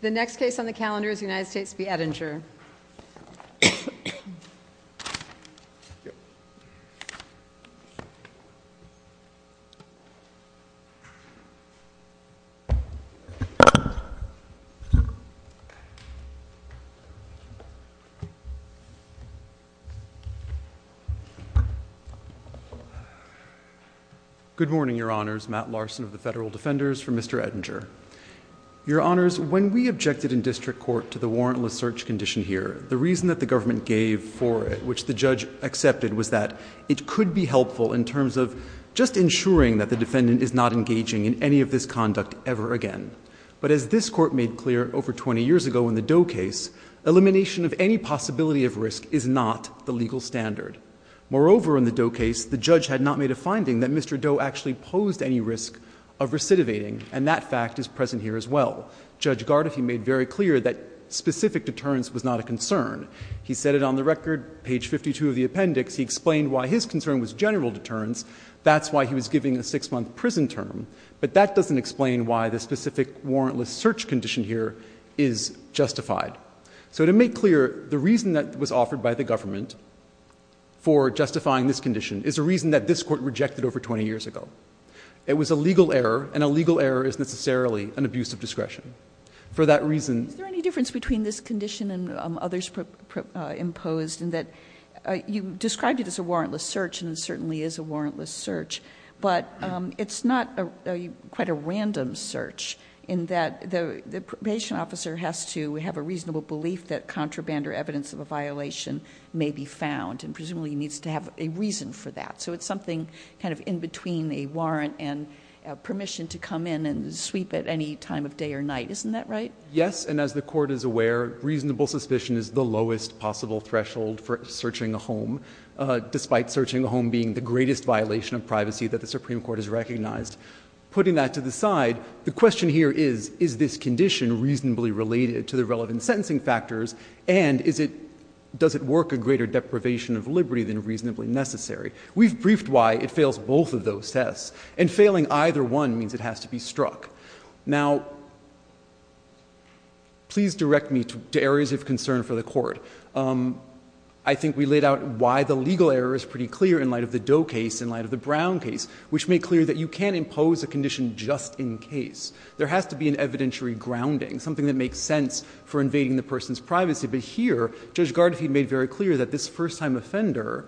The next case on the calendar is United States v. Edinger. Good morning, Your Honors. Matt Larson of the Federal Defenders for Mr. Edinger. Your Honors, when we objected in district court to the warrantless search condition here, the reason that the government gave for it, which the judge accepted, was that it could be helpful in terms of just ensuring that the defendant is not engaging in any of this conduct ever again. But as this court made clear over 20 years ago in the Doe case, elimination of any possibility of risk is not the legal standard. Moreover, in the Doe case, the judge had not made a finding that Mr. Doe actually posed any risk of recidivating, and that fact is present here as well. Judge Gardefee made very clear that specific deterrence was not a concern. He said it on the record, page 52 of the appendix. He explained why his concern was general deterrence. That's why he was giving a six-month prison term. But that doesn't explain why the specific warrantless search condition here is justified. So to make clear, the reason that was offered by the government for justifying this condition is a reason that this court rejected over 20 years ago. It was a legal error, and a legal error is necessarily an abuse of discretion. For that reason... Is there any difference between this condition and others imposed in that you described it as a warrantless search, and it certainly is a warrantless search, but it's not quite a random search in that the probation officer has to have a reasonable belief that contraband or evidence of a violation may be found, and presumably needs to have a reason for that. So it's something kind of in between a warrant and permission to come in and sweep at any time of day or night. Isn't that right? Yes, and as the Court is aware, reasonable suspicion is the lowest possible threshold for searching a home, despite searching a home being the greatest violation of privacy that the Supreme Court has recognized. Putting that to the side, the question here is, is this condition reasonably related to the relevant sentencing factors, and does it work a greater deprivation of liberty than reasonably necessary? We've briefed why it fails both of those tests, and failing either one means it has to be struck. Now, please direct me to areas of concern for the Court. I think we laid out why the legal error is pretty clear in light of the Doe case, in light of the Brown case, which made clear that you can't impose a condition just in case. There has to be an evidentiary grounding, something that makes sense for invading the person's privacy. But here, Judge Gardefied made very clear that this first-time offender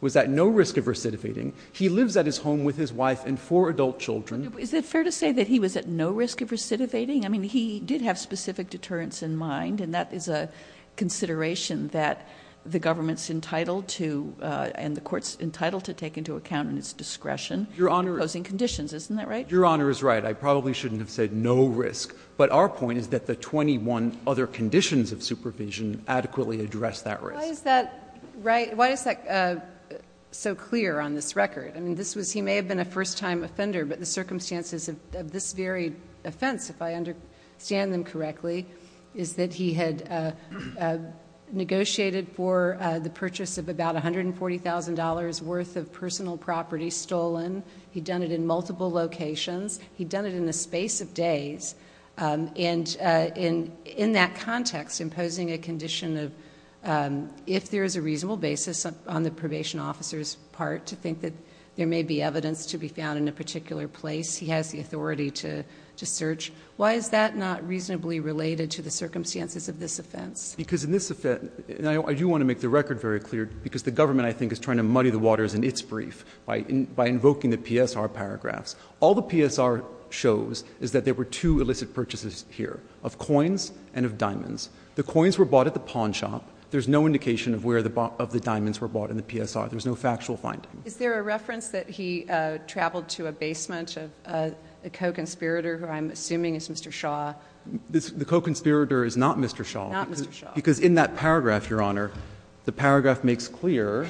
was at no risk of recidivating. He lives at his home with his wife and four adult children. Is it fair to say that he was at no risk of recidivating? I mean, he did have specific deterrence in mind, and that is a consideration that the government is entitled to and the Court is entitled to take into account in its discretion in imposing conditions. Isn't that right? Your Honor is right. I probably shouldn't have said no risk. But our point is that the 21 other conditions of supervision adequately address that risk. Why is that right? Why is that so clear on this record? I mean, this was he may have been a first-time offender, but the circumstances of this very offense, if I understand them correctly, is that he had negotiated for the purchase of about $140,000 worth of personal property stolen. He'd done it in multiple locations. He'd done it in the space of days. And in that context, imposing a condition of if there is a reasonable basis on the probation officer's part to think that there may be evidence to be found in a particular place, he has the authority to search. Why is that not reasonably related to the circumstances of this offense? Because in this offense, and I do want to make the record very clear, because the government, I think, is trying to muddy the waters in its brief by invoking the PSR paragraphs. All the PSR shows is that there were two illicit purchases here, of coins and of diamonds. The coins were bought at the pawn shop. There's no indication of where the diamonds were bought in the PSR. There's no factual finding. Is there a reference that he traveled to a basement of a co-conspirator who I'm assuming is Mr. Shaw? The co-conspirator is not Mr. Shaw. Not Mr. Shaw. Because in that paragraph, Your Honor, the paragraph makes clear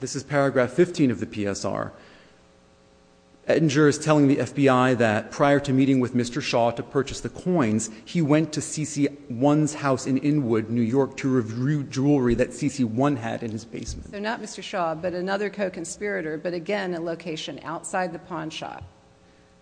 this is paragraph 15 of the PSR. Edinger is telling the FBI that prior to meeting with Mr. Shaw to purchase the coins, he went to C.C. One's house in Inwood, New York, to review jewelry that C.C. One had in his basement. So not Mr. Shaw, but another co-conspirator, but again, a location outside the pawn shop.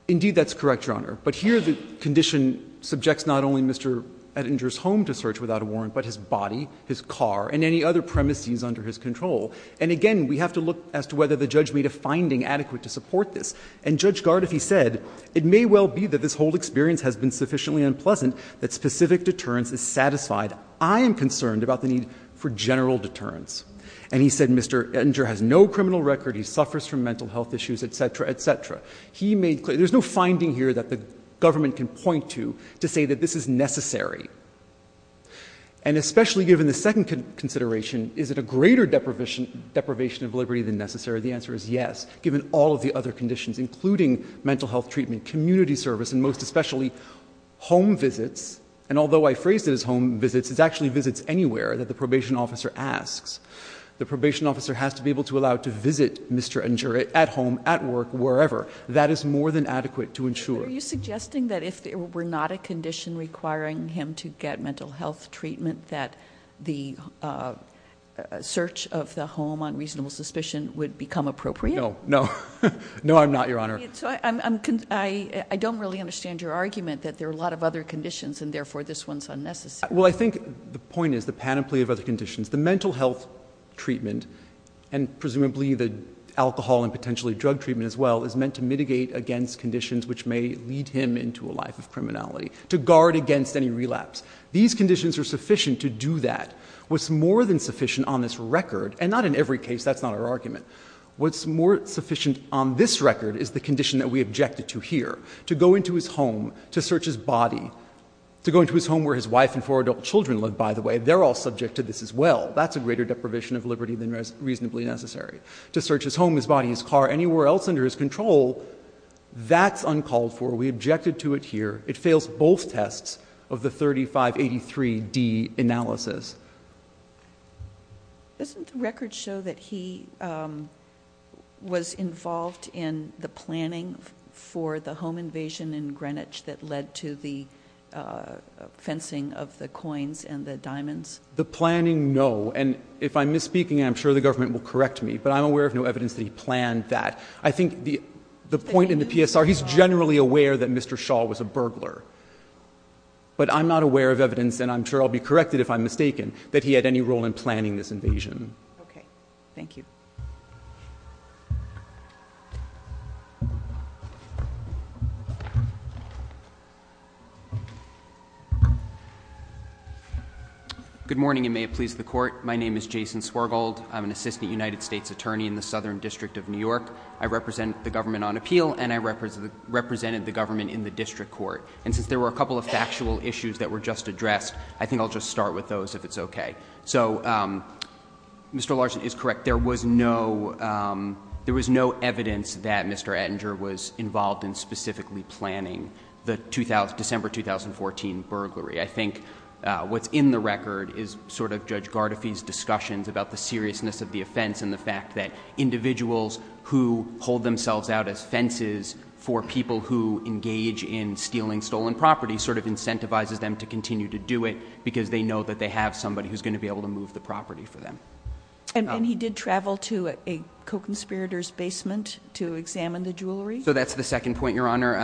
Indeed, that's correct, Your Honor. But here the condition subjects not only Mr. Edinger's home to search, without a warrant, but his body, his car, and any other premises under his control. And again, we have to look as to whether the judge made a finding adequate to support this. And Judge Gard if he said, it may well be that this whole experience has been sufficiently unpleasant that specific deterrence is satisfied. I am concerned about the need for general deterrence. And he said, Mr. Edinger has no criminal record. He suffers from mental health issues, et cetera, et cetera. He made clear. There's no finding here that the government can point to to say that this is necessary. And especially given the second consideration, is it a greater deprivation of liberty than necessary? The answer is yes, given all of the other conditions, including mental health treatment, community service, and most especially home visits. And although I phrased it as home visits, it's actually visits anywhere that the probation officer asks. The probation officer has to be able to allow to visit Mr. Edinger at home, at work, wherever. That is more than adequate to ensure. So are you suggesting that if there were not a condition requiring him to get mental health treatment that the search of the home on reasonable suspicion would become appropriate? No. No. No, I'm not, Your Honor. So I don't really understand your argument that there are a lot of other conditions and therefore this one's unnecessary. Well, I think the point is the panoply of other conditions. The mental health treatment and presumably the alcohol and potentially drug treatment as well is meant to mitigate against conditions which may lead him into a life of criminality, to guard against any relapse. These conditions are sufficient to do that. What's more than sufficient on this record, and not in every case, that's not our argument, what's more sufficient on this record is the condition that we objected to here. To go into his home, to search his body, to go into his home where his wife and four adult children live, by the way, they're all subject to this as well. That's a greater deprivation of liberty than reasonably necessary. To search his home, his body, his car, anywhere else under his control, that's uncalled for. We objected to it here. It fails both tests of the 3583D analysis. Doesn't the record show that he was involved in the planning for the home invasion in Greenwich that led to the fencing of the coins and the diamonds? The planning, no. And if I'm misspeaking, I'm sure the government will correct me. But I'm aware of no evidence that he planned that. I think the point in the PSR, he's generally aware that Mr. Shaw was a burglar. But I'm not aware of evidence, and I'm sure I'll be corrected if I'm mistaken, that he had any role in planning this invasion. Okay. Thank you. Good morning, and may it please the Court. My name is Jason Swergold. I'm an assistant United States attorney in the Southern District of New York. I represent the government on appeal, and I represented the government in the district court. And since there were a couple of factual issues that were just addressed, I think I'll just start with those if it's okay. So Mr. Larson is correct. There was no evidence that Mr. Ettinger was involved in specifically planning the December 2014 burglary. I think what's in the record is sort of Judge Gardefee's discussions about the seriousness of the offense and the fact that individuals who hold themselves out as fences for people who engage in stealing stolen property sort of incentivizes them to continue to do it because they know that they have somebody who's going to be able to move the property for them. And he did travel to a co-conspirator's basement to examine the jewelry? So that's the second point, Your Honor.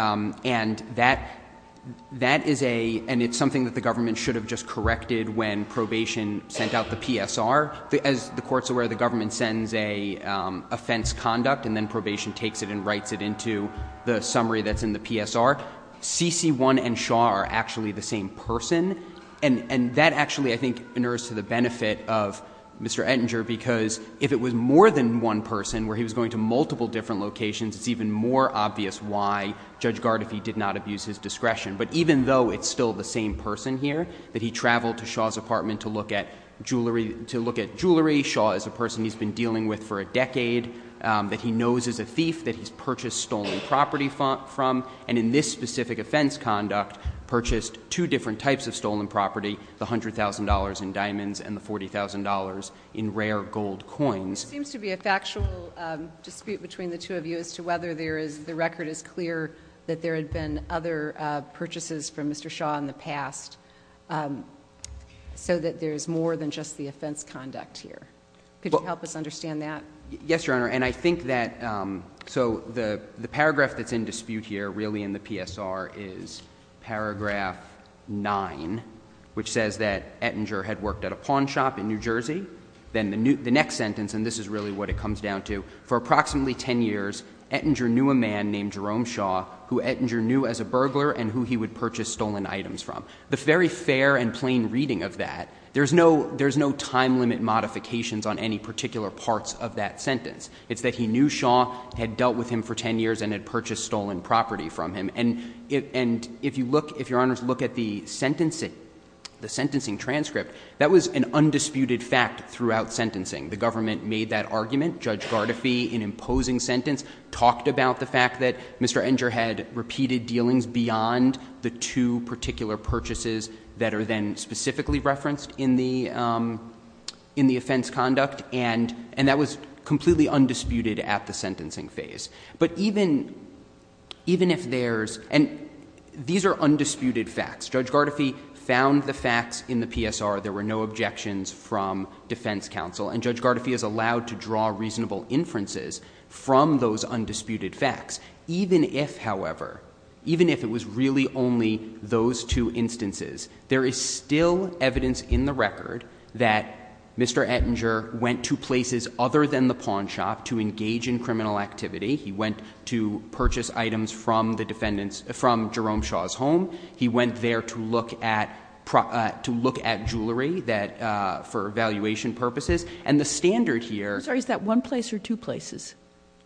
And that is a – and it's something that the government should have just corrected when probation sent out the PSR. As the Court's aware, the government sends a offense conduct, and then probation takes it and writes it into the summary that's in the PSR. CC1 and Shaw are actually the same person. And that actually, I think, inures to the benefit of Mr. Ettinger because if it was more than one person where he was going to multiple different locations, it's even more obvious why Judge Gardefee did not abuse his discretion. But even though it's still the same person here, that he traveled to Shaw's apartment to look at jewelry, Shaw is a person he's been dealing with for a decade, that he knows is a thief, that he's purchased stolen property from, and in this specific offense conduct, purchased two different types of stolen property, the $100,000 in diamonds and the $40,000 in rare gold coins. Well, there seems to be a factual dispute between the two of you as to whether there is – the record is clear that there had been other purchases from Mr. Shaw in the past, so that there's more than just the offense conduct here. Yes, Your Honor. And I think that – so the paragraph that's in dispute here really in the PSR is paragraph 9, which says that Ettinger had worked at a pawn shop in New Jersey. Then the next sentence, and this is really what it comes down to, for approximately 10 years, Ettinger knew a man named Jerome Shaw who Ettinger knew as a burglar and who he would purchase stolen items from. The very fair and plain reading of that, there's no time limit modifications on any particular parts of that sentence. It's that he knew Shaw, had dealt with him for 10 years, and had purchased stolen property from him. And if you look – if Your Honors look at the sentencing, the sentencing transcript, that was an undisputed fact throughout sentencing. The government made that argument. Judge Gardefee, in imposing sentence, talked about the fact that Mr. Ettinger had repeated dealings beyond the two particular purchases that are then and that was completely undisputed at the sentencing phase. But even if there's – and these are undisputed facts. Judge Gardefee found the facts in the PSR. There were no objections from defense counsel. And Judge Gardefee is allowed to draw reasonable inferences from those undisputed facts. Even if, however, even if it was really only those two instances, there is still evidence in the record that Mr. Ettinger went to places other than the pawn shop to engage in criminal activity. He went to purchase items from the defendant's – from Jerome Shaw's home. He went there to look at – to look at jewelry that – for evaluation purposes. And the standard here – I'm sorry. Is that one place or two places?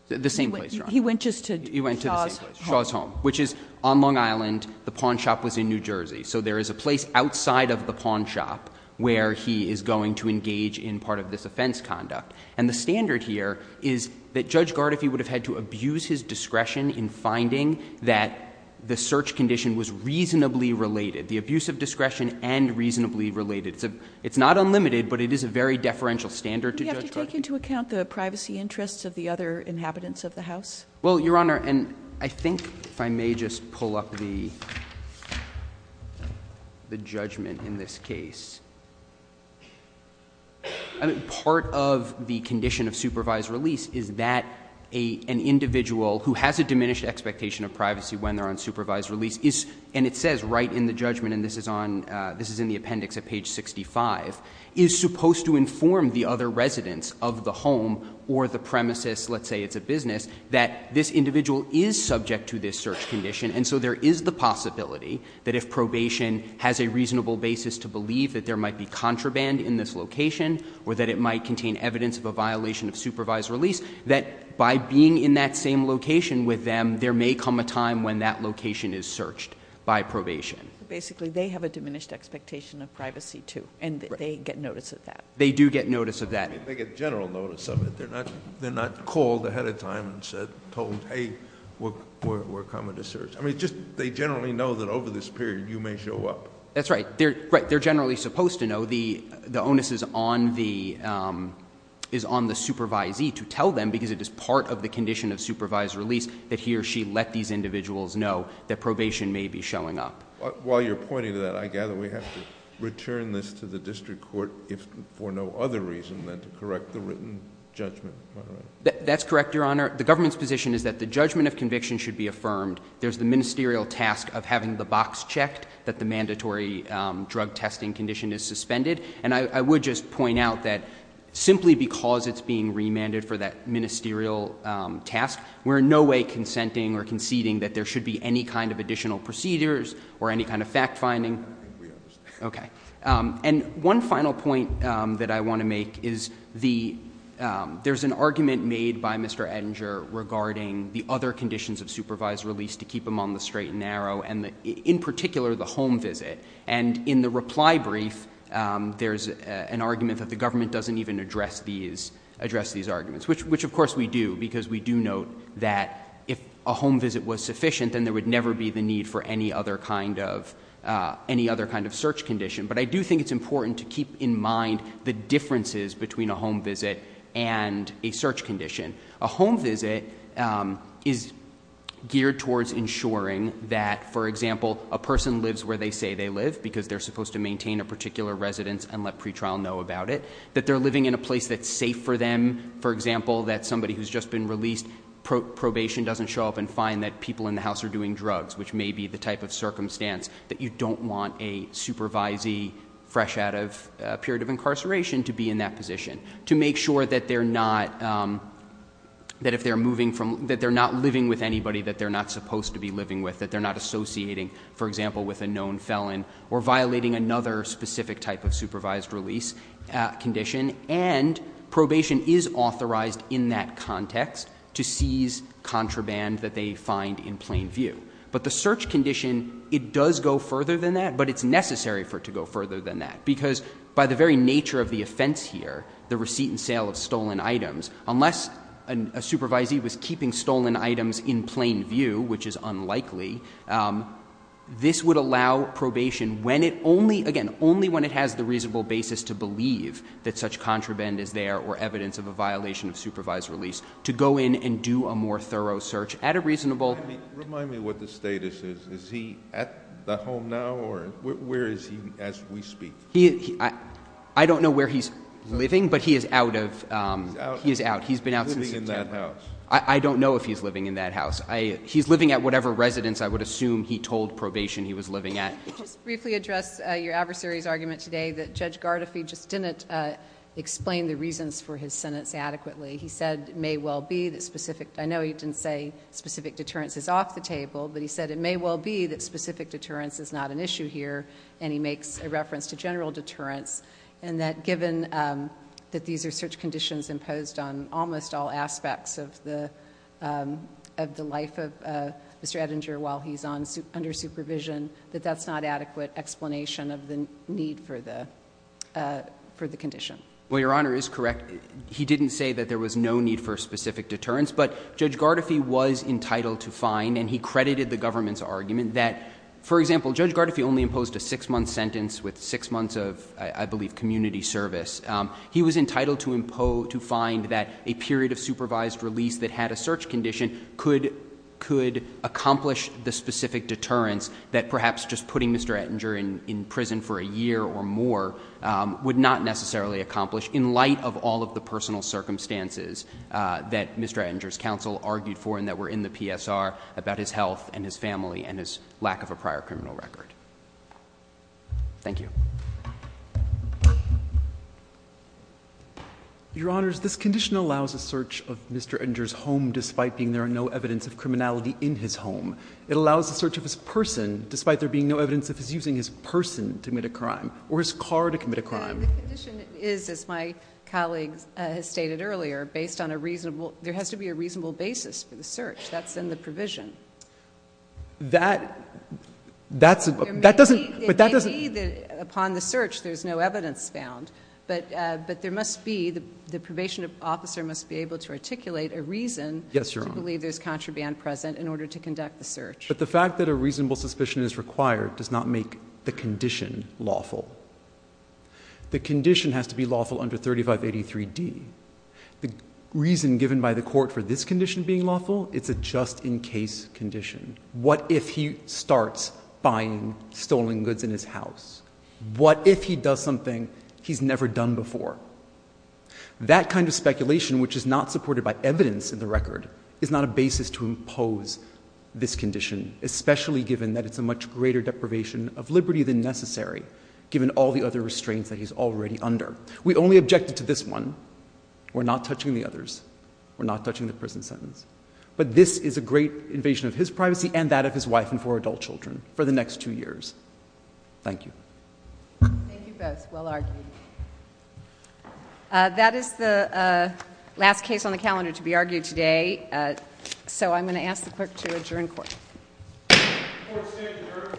The same place, Your Honor. He went just to Shaw's home. He went to the same place, Shaw's home, which is on Long Island. The pawn shop was in New Jersey. So there is a place outside of the pawn shop where he is going to engage in part of this offense conduct. And the standard here is that Judge Gardefee would have had to abuse his discretion in finding that the search condition was reasonably related, the abuse of discretion and reasonably related. It's not unlimited, but it is a very deferential standard to Judge Gardefee. Do we have to take into account the privacy interests of the other inhabitants of the house? Well, Your Honor, and I think if I may just pull up the judgment in this case. I mean, part of the condition of supervised release is that an individual who has a diminished expectation of privacy when they're on supervised release is – and it says right in the judgment, and this is on – this is in the appendix at page 65 – is supposed to inform the other residents of the home or the premises – let's say it's a business – that this individual is subject to this search condition. And so there is the possibility that if probation has a reasonable basis to believe that there might be contraband in this location or that it might contain evidence of a violation of supervised release, that by being in that same location with them, there may come a time when that location is searched by probation. Basically, they have a diminished expectation of privacy, too. And they get notice of that. They do get notice of that. They get general notice of it. They're not called ahead of time and told, hey, we're coming to search. I mean, they generally know that over this period you may show up. That's right. They're generally supposed to know. The onus is on the supervisee to tell them, because it is part of the condition of supervised release, that he or she let these individuals know that probation may be showing up. While you're pointing to that, I gather we have to return this to the district court for no other reason than to correct the written judgment, am I right? That's correct, Your Honor. The government's position is that the judgment of conviction should be affirmed. There's the ministerial task of having the box checked that the mandatory drug testing condition is suspended. And I would just point out that simply because it's being remanded for that ministerial task, we're in no way consenting or conceding that there should be any kind of additional procedures or any kind of fact finding. We understand. Okay. And one final point that I want to make is there's an argument made by Mr. Ettinger regarding the other conditions of supervised release to keep him on the straight and narrow, and in particular, the home visit. And in the reply brief, there's an argument that the government doesn't even address these arguments, which, of course, we do, because we do note that if a home visit was sufficient, then there would never be the need for any other kind of search condition. But I do think it's important to keep in mind the differences between a home visit and a search condition. A home visit is geared towards ensuring that, for example, a person lives where they say they live because they're supposed to maintain a particular residence and let pretrial know about it, that they're living in a place that's safe for them. For example, that somebody who's just been released, probation doesn't show up and find that people in the house are doing drugs, which may be the type of supervisee fresh out of a period of incarceration to be in that position, to make sure that they're not living with anybody that they're not supposed to be living with, that they're not associating, for example, with a known felon or violating another specific type of supervised release condition. And probation is authorized in that context to seize contraband that they find in plain view. But the search condition, it does go further than that. But it's necessary for it to go further than that. Because by the very nature of the offense here, the receipt and sale of stolen items, unless a supervisee was keeping stolen items in plain view, which is unlikely, this would allow probation when it only, again, only when it has the reasonable basis to believe that such contraband is there or evidence of a violation of supervised release, to go in and do a more thorough search at a reasonable... Where is he as we speak? I don't know where he's living, but he is out of... He's out. He's been out since September. He's living in that house. I don't know if he's living in that house. He's living at whatever residence I would assume he told probation he was living at. Could you just briefly address your adversary's argument today that Judge Gardefee just didn't explain the reasons for his sentence adequately. He said it may well be that specific... I know he didn't say specific deterrence is off the table, but he said it may well be that specific deterrence is not an issue here, and he makes a reference to general deterrence, and that given that these are search conditions imposed on almost all aspects of the life of Mr. Ettinger while he's under supervision, that that's not adequate explanation of the need for the condition. Well, Your Honor is correct. He didn't say that there was no need for specific deterrence, but Judge Gardefee was entitled to find, and he credited the government's argument that, for example, Judge Gardeefee only imposed a six-month sentence with six months of, I believe, community service. He was entitled to find that a period of supervised release that had a search condition could accomplish the specific deterrence that perhaps just putting Mr. Ettinger in prison for a year or more would not necessarily accomplish in light of all of the personal circumstances that Mr. Ettinger's counsel argued for and that were in the PSR about his health and his family and his lack of a prior criminal record. Thank you. Your Honors, this condition allows a search of Mr. Ettinger's home despite being there are no evidence of criminality in his home. It allows the search of his person despite there being no evidence of his using his person to commit a crime or his car to commit a crime. And the condition is, as my colleague has stated earlier, based on a reasonable — there has to be a reasonable basis for the search. That's in the provision. That — that doesn't — but that doesn't — It may be that upon the search there's no evidence found, but there must be — the probation officer must be able to articulate a reason to believe there's contraband present in order to conduct the search. But the fact that a reasonable suspicion is required does not make the condition lawful. The condition has to be lawful under 3583D. The reason given by the court for this condition being lawful, it's a just-in-case condition. What if he starts buying stolen goods in his house? What if he does something he's never done before? That kind of speculation, which is not supported by evidence in the record, is not a basis to impose this condition, especially given that it's a much greater deprivation of liberty than necessary, given all the other restraints that he's already under. We only objected to this one. We're not touching the others. We're not touching the prison sentence. But this is a great invasion of his privacy and that of his wife and four adult children for the next two years. Thank you. Thank you both. Well argued. That is the last case on the calendar to be argued today, so I'm going to ask the clerk to adjourn court. Court is adjourned.